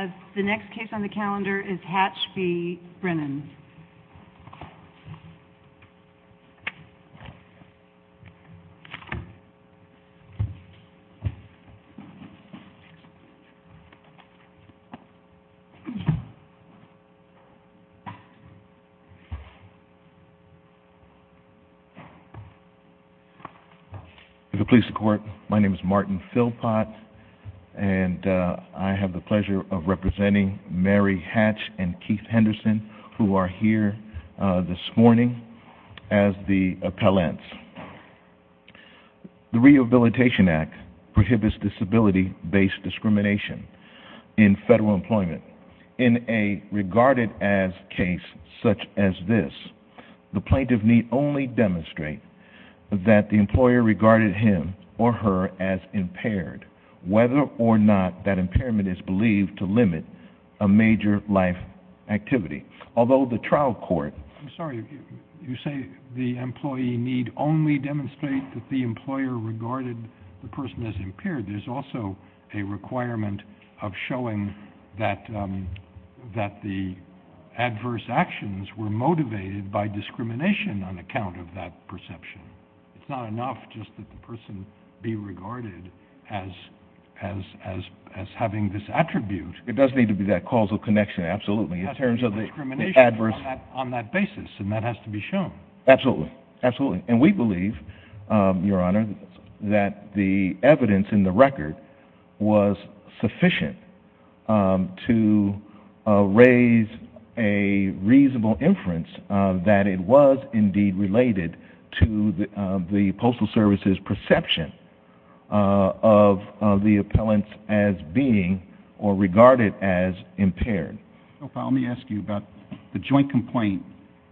If it pleases the court, my name is Martin Philpott, and I have the pleasure of representing Mary Hatch and Keith Henderson, who are here this morning as the appellants. The Rehabilitation Act prohibits disability-based discrimination in federal employment. In a regarded-as case such as this, the plaintiff need only demonstrate that the employer regarded him or her as impaired, whether or not that impairment is believed to limit a major life activity. Although the trial court— I'm sorry, you say the employee need only demonstrate that the employer regarded the person as impaired. There's also a requirement of showing that the adverse actions were motivated by discrimination on account of that perception. It's not enough just that the person be regarded as having this attribute. It does need to be that causal connection, absolutely, in terms of the adverse— On that basis, and that has to be shown. Absolutely, absolutely. And we believe, Your Honor, that the evidence in the record was sufficient to raise a reasonable inference that it was indeed related to the Postal Service's perception of the appellants as being, or regarded as, impaired. So, Powell, let me ask you about the joint complaint,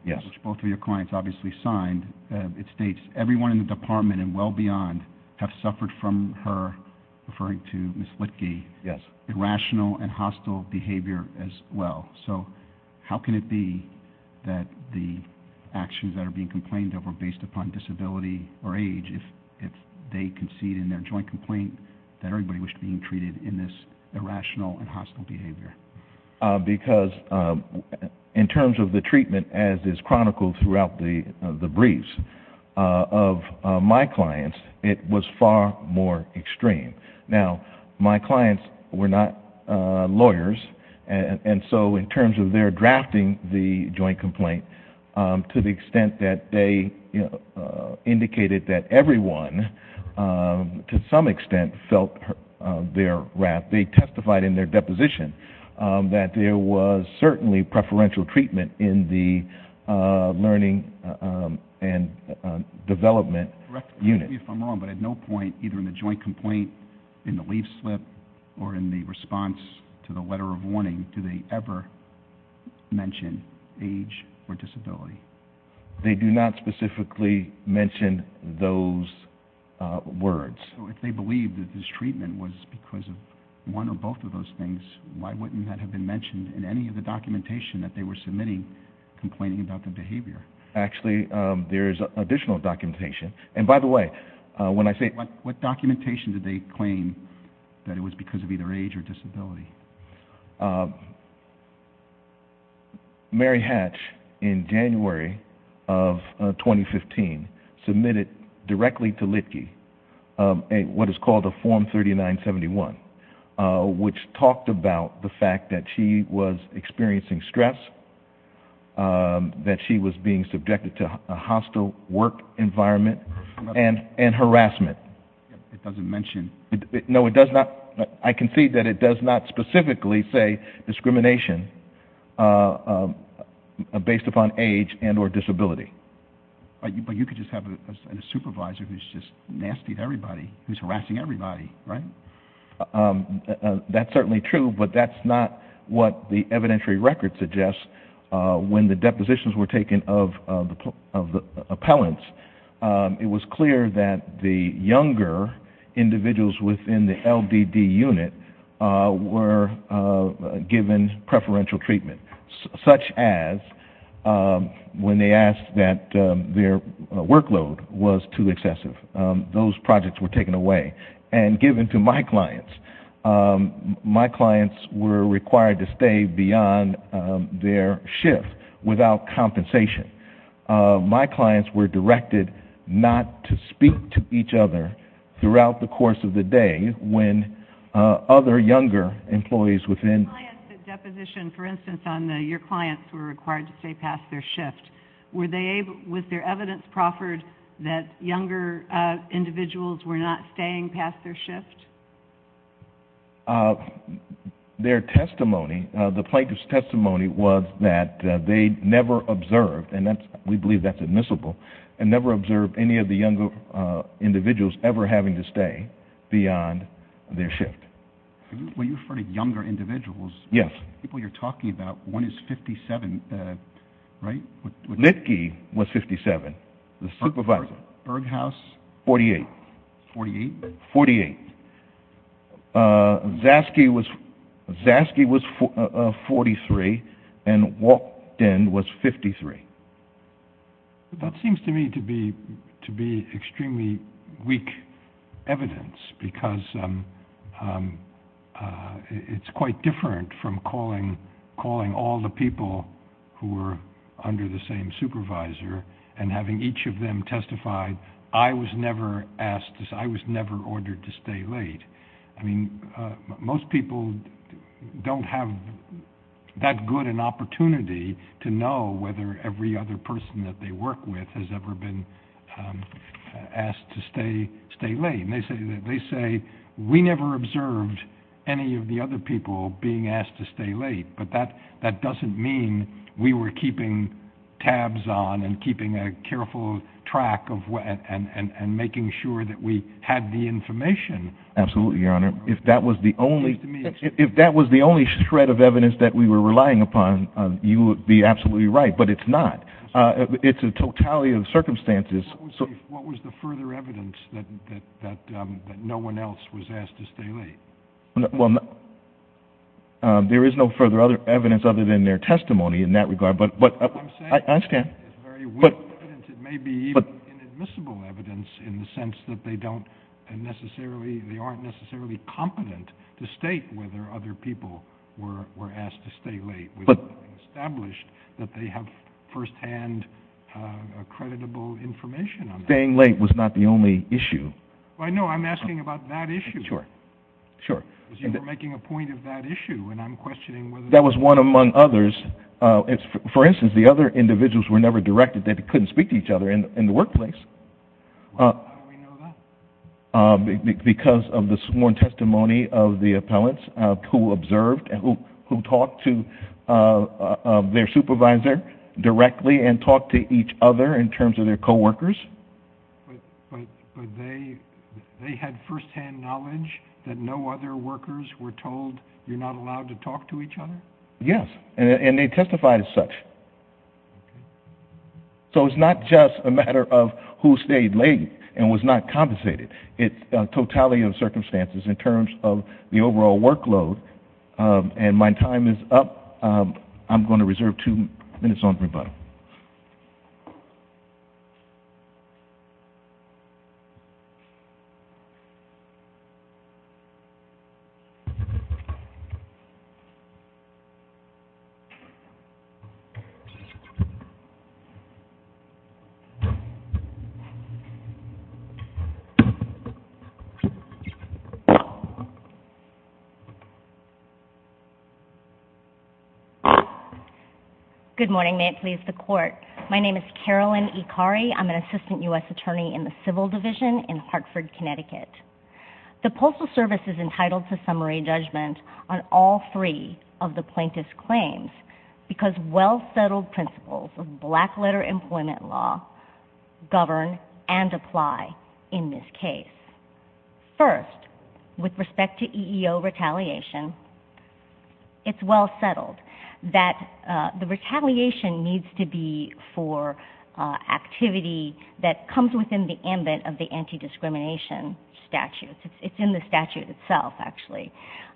which both of your clients obviously signed. It states, everyone in the department and well beyond have suffered from her—referring to Ms. Litke—irrational and hostile behavior as well. So how can it be that the actions that are being complained of are based upon disability or age, if they concede in their joint complaint that everybody was being treated in this irrational and hostile behavior? Because in terms of the treatment, as is chronicled throughout the lawyers, and so in terms of their drafting the joint complaint, to the extent that they indicated that everyone, to some extent, felt their wrath, they testified in their deposition that there was certainly preferential treatment in the learning and development unit. I don't know if I'm wrong, but at no point, either in the joint complaint, in the leaf slip, or in the response to the letter of warning, do they ever mention age or disability. They do not specifically mention those words. So if they believe that this treatment was because of one or both of those things, why wouldn't that have been mentioned in any of the documentation that they were submitting, complaining about the behavior? Actually, there is additional documentation. And by the way, when I say... What documentation did they claim that it was because of either age or disability? Mary Hatch, in January of 2015, submitted directly to Litkey what is called a Form 3971, which talked about the fact that she was experiencing stress, that she was being subjected to a hostile work environment, and harassment. It doesn't mention... No, it does not. I concede that it does not specifically say discrimination based upon age and or disability. But you could just have a supervisor who's just nasty to everybody, who's harassing everybody, right? That's certainly true, but that's not what the evidentiary record suggests. When the depositions were taken of the appellants, it was clear that the younger individuals within the LDD unit were given preferential treatment, such as when they asked that their workload was too excessive. Those projects were taken away and given to my clients. My clients were required to stay beyond their shift without compensation. My clients were directed not to speak to each other throughout the course of the day when other younger employees within... Clients that deposition, for instance, on the... Your clients were required to stay past their shift. Were they able... Was there evidence proffered that younger individuals were not staying past their shift? Their testimony, the plaintiff's testimony was that they never observed, and we believe that's admissible, and never observed any of the younger individuals ever having to stay beyond their shift. When you refer to younger individuals... Yes. ...people you're talking about, one is 57, right? Litke was 57, the supervisor. Berghaus? 48. 48? 48. Zaske was 43, and Walkden was 53. That seems to me to be extremely weak evidence because it's quite different from calling all the people who were under the same supervisor and having each of them testify, I was never asked, I was never ordered to stay late. I mean, most people don't have that good an opportunity to know whether every other person that they work with has ever been asked to stay late. And they say, we never observed any of the other people being asked to stay late, but that doesn't mean we were keeping tabs on and keeping a careful track and making sure that we had the information. Absolutely, Your Honor. If that was the only... Excuse me. If that was the only shred of evidence that we were relying upon, you would be absolutely right, but it's not. It's a totality of circumstances. What was the further evidence that no one else was asked to stay late? Well, there is no further evidence other than their testimony in that regard, but... It's very weak evidence. It may be inadmissible evidence in the sense that they don't necessarily, they aren't necessarily competent to state whether other people were asked to stay late. But... It's been established that they have firsthand accreditable information on that. Staying late was not the only issue. I know, I'm asking about that issue. Sure, sure. Because you were making a point of that issue, and I'm questioning whether... That was one among others. For instance, the other individuals were never directed that they couldn't speak to each other in the workplace. How do we know that? Because of the sworn testimony of the appellants who observed, who talked to their supervisor directly and talked to each other in terms of their coworkers. But they had firsthand knowledge that no other workers were told, you're not allowed to talk to each other? Yes, and they testified as such. Okay. So it's not just a matter of who stayed late and was not compensated. It's a totality of circumstances in terms of the overall workload. And my time is up. I'm going to reserve two minutes on rebuttal. Okay. Good morning. May it please the Court. My name is Carolyn Ikari. I'm an Assistant U.S. Attorney in the Civil Division in Hartford, Connecticut. The Postal Service is entitled to summary judgment on all three of the plaintiff's claims because well-settled principles of black-letter employment law govern and apply in this case. First, with respect to EEO retaliation, it's well-settled that the retaliation needs to be for activity that comes within the ambit of the anti-discrimination statute. It's in the statute itself, actually.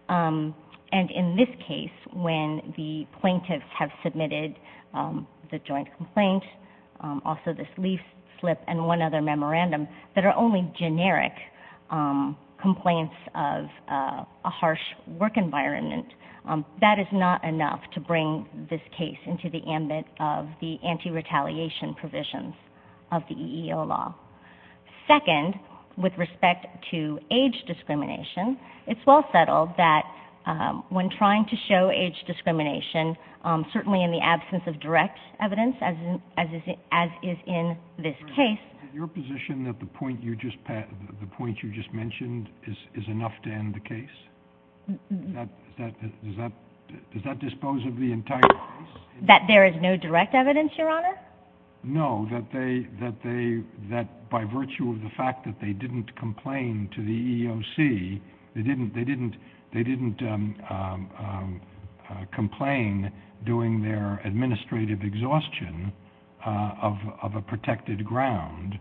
And in this case, when the plaintiffs have submitted the joint complaint, also this leaf slip and one other memorandum, that are only generic complaints of a harsh work environment, that is not enough to bring this case into the ambit of the anti-retaliation provisions of the EEO law. Second, with respect to age discrimination, it's well-settled that when trying to show age discrimination, certainly in the absence of direct evidence, as is in this case, Is it your position that the point you just mentioned is enough to end the case? Does that dispose of the entire case? That there is no direct evidence, Your Honor? No, that by virtue of the fact that they didn't complain to the EEOC, they didn't complain during their administrative exhaustion of a protected ground,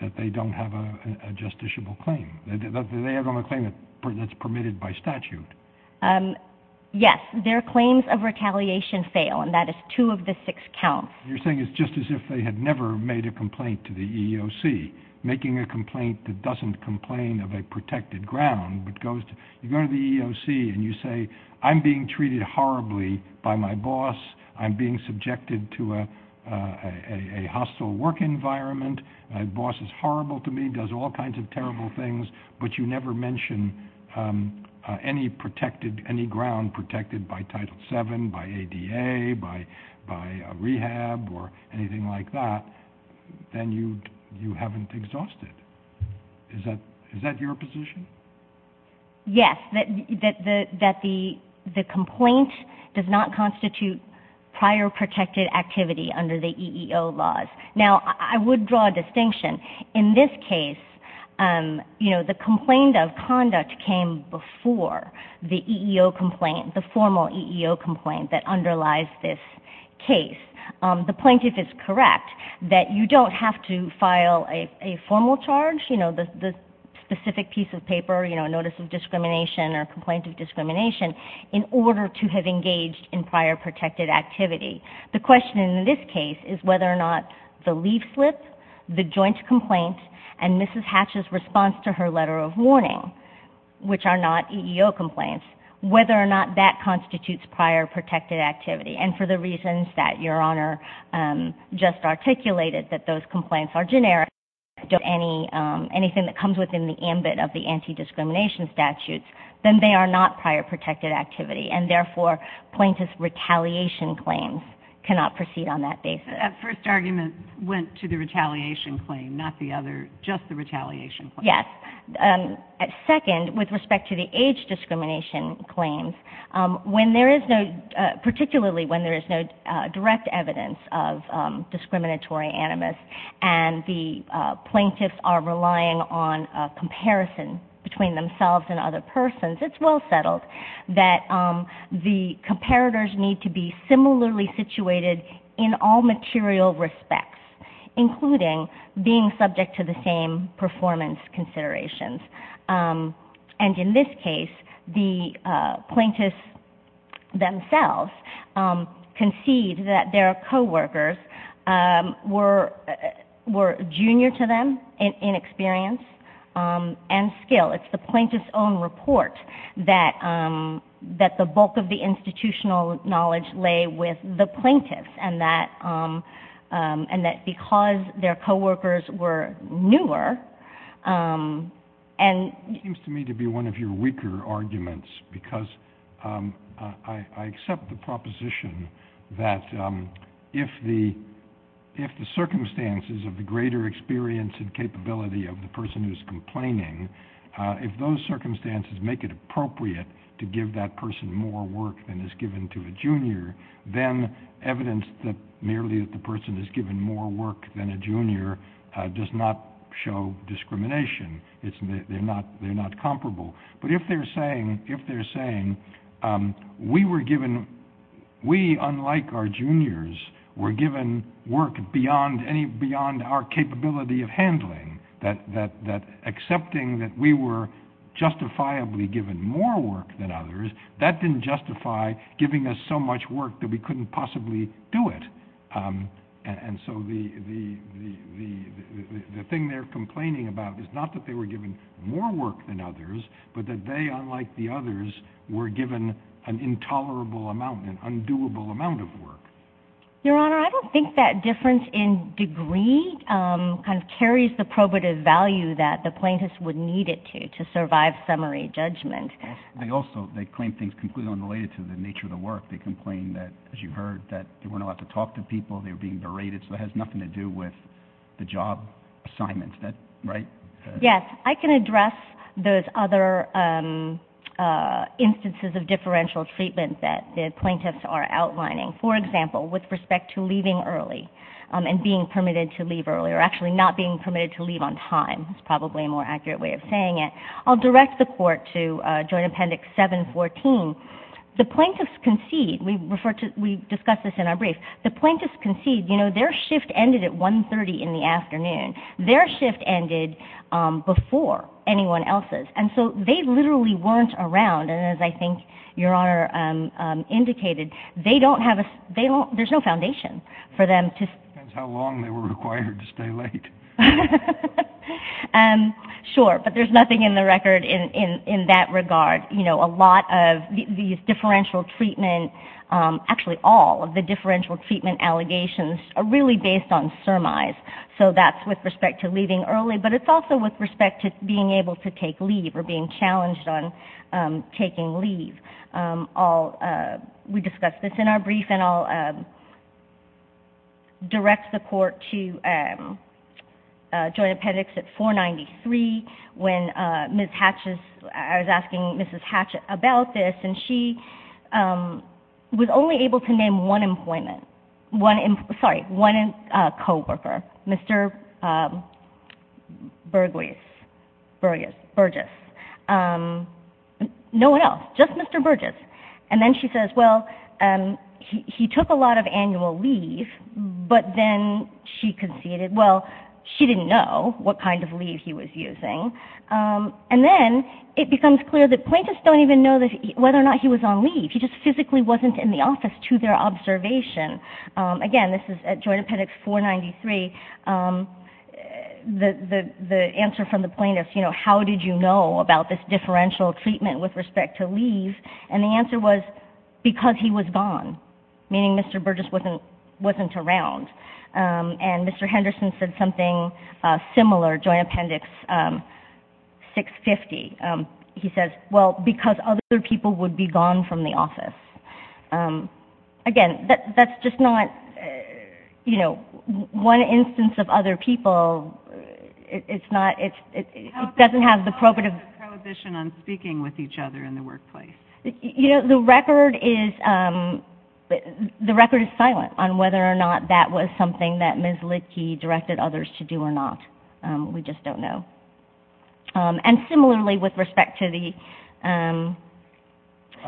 that they don't have a justiciable claim. They have only a claim that's permitted by statute. Yes, their claims of retaliation fail, and that is two of the six counts. You're saying it's just as if they had never made a complaint to the EEOC. Making a complaint that doesn't complain of a protected ground, but you go to the EEOC and you say, I'm being treated horribly by my boss, I'm being subjected to a hostile work environment, my boss is horrible to me, does all kinds of terrible things, but you never mention any ground protected by Title VII, by ADA, by rehab, or anything like that, then you haven't exhausted. Is that your position? Yes, that the complaint does not constitute prior protected activity under the EEO laws. Now, I would draw a distinction. In this case, the complaint of conduct came before the EEO complaint, the formal EEO complaint that underlies this case. The plaintiff is correct that you don't have to file a formal charge, the specific piece of paper, notice of discrimination, or complaint of discrimination, in order to have engaged in prior protected activity. The question in this case is whether or not the leaf slip, the joint complaint, and Mrs. Hatch's response to her letter of warning, which are not EEO complaints, whether or not that constitutes prior protected activity, and for the reasons that Your Honor just articulated, that those complaints are generic, don't have anything that comes within the ambit of the anti-discrimination statutes, then they are not prior protected activity. And therefore, plaintiff's retaliation claims cannot proceed on that basis. That first argument went to the retaliation claim, not the other, just the retaliation claim. Yes. Second, with respect to the age discrimination claims, particularly when there is no direct evidence of discriminatory animus, and the plaintiffs are relying on a comparison between themselves and other persons, it's well settled that the comparators need to be similarly situated in all material respects, including being subject to the same performance considerations. And in this case, the plaintiffs themselves concede that their co-workers were junior to them in experience and skill. It's the plaintiffs' own report that the bulk of the institutional knowledge lay with the plaintiffs, and that because their co-workers were newer, and... It seems to me to be one of your weaker arguments, because I accept the proposition that if the circumstances of the greater experience and capability of the person who is complaining, if those circumstances make it appropriate to give that person more work than is given to a junior, then evidence that merely that the person is given more work than a junior does not show discrimination. They're not comparable. But if they're saying, we, unlike our juniors, were given work beyond our capability of handling, that accepting that we were justifiably given more work than others, that didn't justify giving us so much work that we couldn't possibly do it. And so the thing they're complaining about is not that they were given more work than others, but that they, unlike the others, were given an intolerable amount, an undoable amount of work. Your Honor, I don't think that difference in degree carries the probative value that the plaintiffs would need it to, to survive summary judgment. They also claim things completely unrelated to the nature of the work. They complain that, as you've heard, that they weren't allowed to talk to people, they were being berated, so it has nothing to do with the job assignments. Is that right? Yes. I can address those other instances of differential treatment that the plaintiffs are outlining. For example, with respect to leaving early and being permitted to leave early, or actually not being permitted to leave on time, is probably a more accurate way of saying it. I'll direct the Court to Joint Appendix 714. The plaintiffs concede, we discussed this in our brief, the plaintiffs concede, you know, their shift ended at 1.30 in the afternoon. Their shift ended before anyone else's. And so they literally weren't around, and as I think Your Honor indicated, they don't have a, there's no foundation for them to... Depends how long they were required to stay late. Sure, but there's nothing in the record in that regard. A lot of these differential treatment, actually all of the differential treatment allegations are really based on surmise. So that's with respect to leaving early, but it's also with respect to being able to take leave or being challenged on taking leave. I'll, we discussed this in our brief, and I'll direct the Court to Joint Appendix at 493, when Ms. Hatches, I was asking Mrs. Hatches about this, and she was only able to name one employment, one, sorry, one coworker, Mr. Burgess, no one else, just Mr. Burgess. And then she says, well, he took a lot of annual leave, but then she conceded, well, she didn't know what kind of leave he was using. And then it becomes clear that plaintiffs don't even know whether or not he was on leave. He just physically wasn't in the office to their observation. Again, this is at Joint Appendix 493, the answer from the plaintiffs, you know, how did you know about this differential treatment with respect to leave? And the answer was because he was gone, meaning Mr. Burgess wasn't around. And Mr. Henderson said something similar, Joint Appendix 650, he says, well, because other people would be gone from the office. Again, that's just not, you know, one instance of other people, it's not, it doesn't have the prohibitive... How about the prohibition on speaking with each other in the workplace? You know, the record is, the record is silent on whether or not that was something that Ms. Lidke directed others to do or not. We just don't know. And similarly, with respect to the...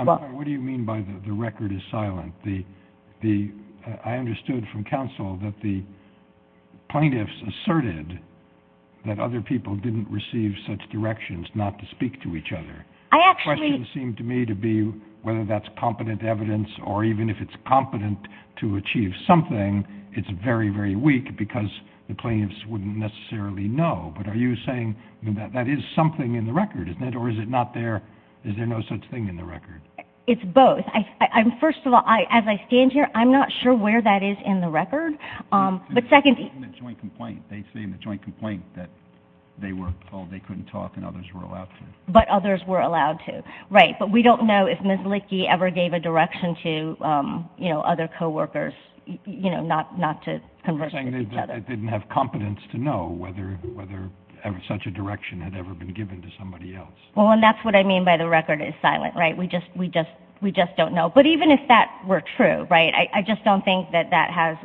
What do you mean by the record is silent? I understood from counsel that the plaintiffs asserted that other people didn't receive such directions not to speak to each other. The question seemed to me to be whether that's competent evidence or even if it's competent to achieve something, it's very, very weak because the plaintiffs wouldn't necessarily know. But are you saying that that is something in the record, isn't it? Or is it not there, is there no such thing in the record? It's both. First of all, as I stand here, I'm not sure where that is in the record. But secondly... They say in the joint complaint that they were told they couldn't talk and others were allowed to. But others were allowed to, right. But we don't know if Ms. Lidke ever gave a direction to other co-workers not to converse with each other. You're saying they didn't have competence to know whether such a direction had ever been given to somebody else. Well, and that's what I mean by the record is silent. We just don't know. But even if that were true, I just don't think that that has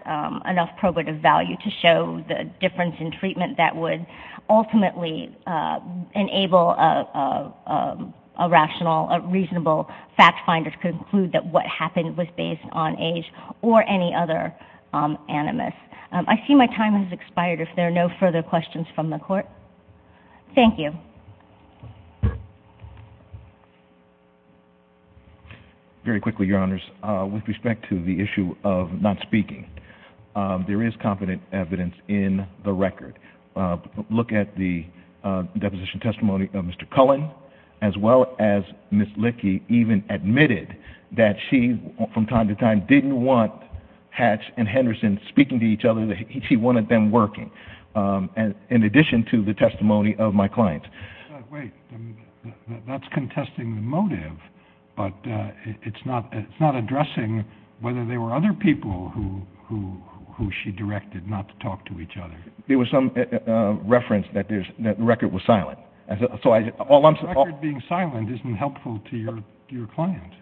enough probative value to show the difference in treatment that would ultimately enable a rational, a reasonable fact finder to conclude that what happened was based on age or any other animus. I see my time has expired if there are no further questions from the court. Thank you. Very quickly, Your Honours. With respect to the issue of not speaking, there is competent evidence in the record. Look at the deposition testimony of Mr. Cullen as well as Ms. Lidke even admitted that she, from time to time, didn't want Hatch and Henderson speaking to each other. She wanted them working, in addition to the testimony of my client. Wait, that's contesting the motive, but it's not addressing whether there were other people who she directed not to talk to each other. There was some reference that the record was silent. A record being silent isn't helpful to your client.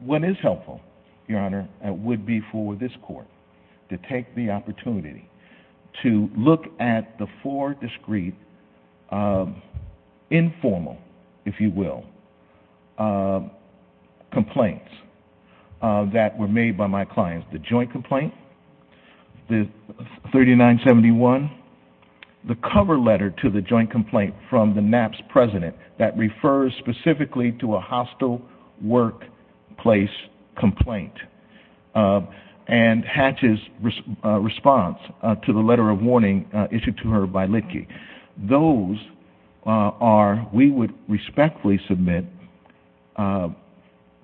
What is helpful, Your Honour, would be for this court to take the opportunity to look at the four discreet, informal, if you will, complaints that were made by my clients, the joint complaint, the 3971, the cover letter to the joint complaint from the NAPPS president that refers specifically to a hostile workplace complaint, and Hatch's response to the letter of warning issued to her by Lidke. Those are, we would respectfully submit,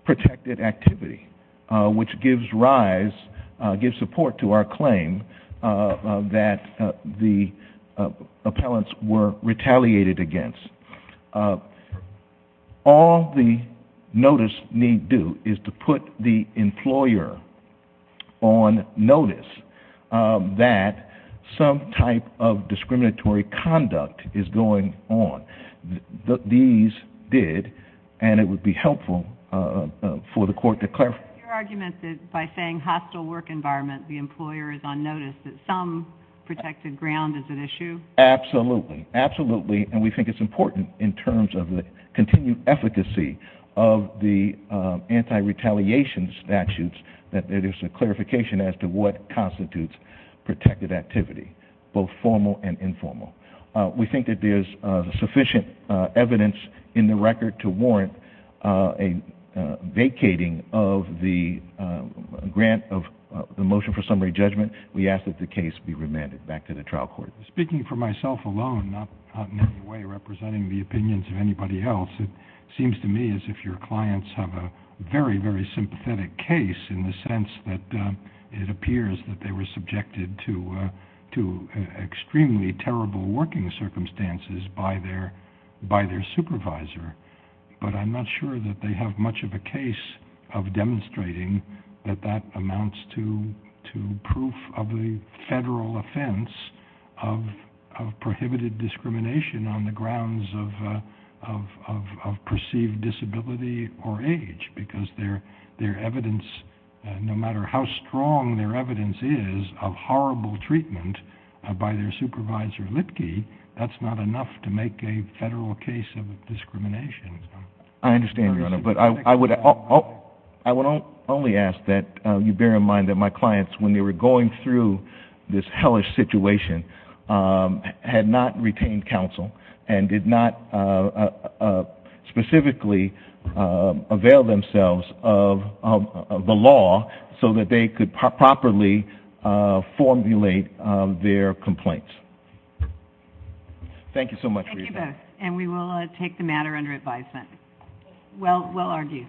protected activity, which gives rise, gives support to our claim that the appellants were retaliated against. All the notice need do is to put the employer on notice that some type of discriminatory conduct is going on. These did, and it would be helpful for the court to clarify. Your argument is by saying hostile work environment, the employer is on notice that some protected ground is at issue? Absolutely, absolutely, and we think it's important in terms of the continued efficacy of the anti-retaliation statutes that there's a clarification as to what constitutes protected activity, both formal and informal. We think that there's sufficient evidence in the record to warrant a vacating of the grant of the motion for summary judgment. We ask that the case be remanded back to the trial court. Speaking for myself alone, not in any way representing the opinions of anybody else, it seems to me as if your clients have a very, very sympathetic case in the sense that it appears that they were subjected to extremely terrible working circumstances by their supervisor, but I'm not sure that they have much of a case of demonstrating that that amounts to proof of a federal offense of prohibited discrimination on the grounds of perceived disability or age because their evidence, no matter how strong their evidence is of horrible treatment by their supervisor Lipke, that's not enough to make a federal case of discrimination. I understand, Your Honor, but I would only ask that you bear in mind that my clients, when they were going through this hellish situation, had not retained counsel and did not specifically avail themselves of the law so that they could properly formulate their complaints. Thank you so much for your time. Thank you both, and we will take the matter under advisement. Well argued.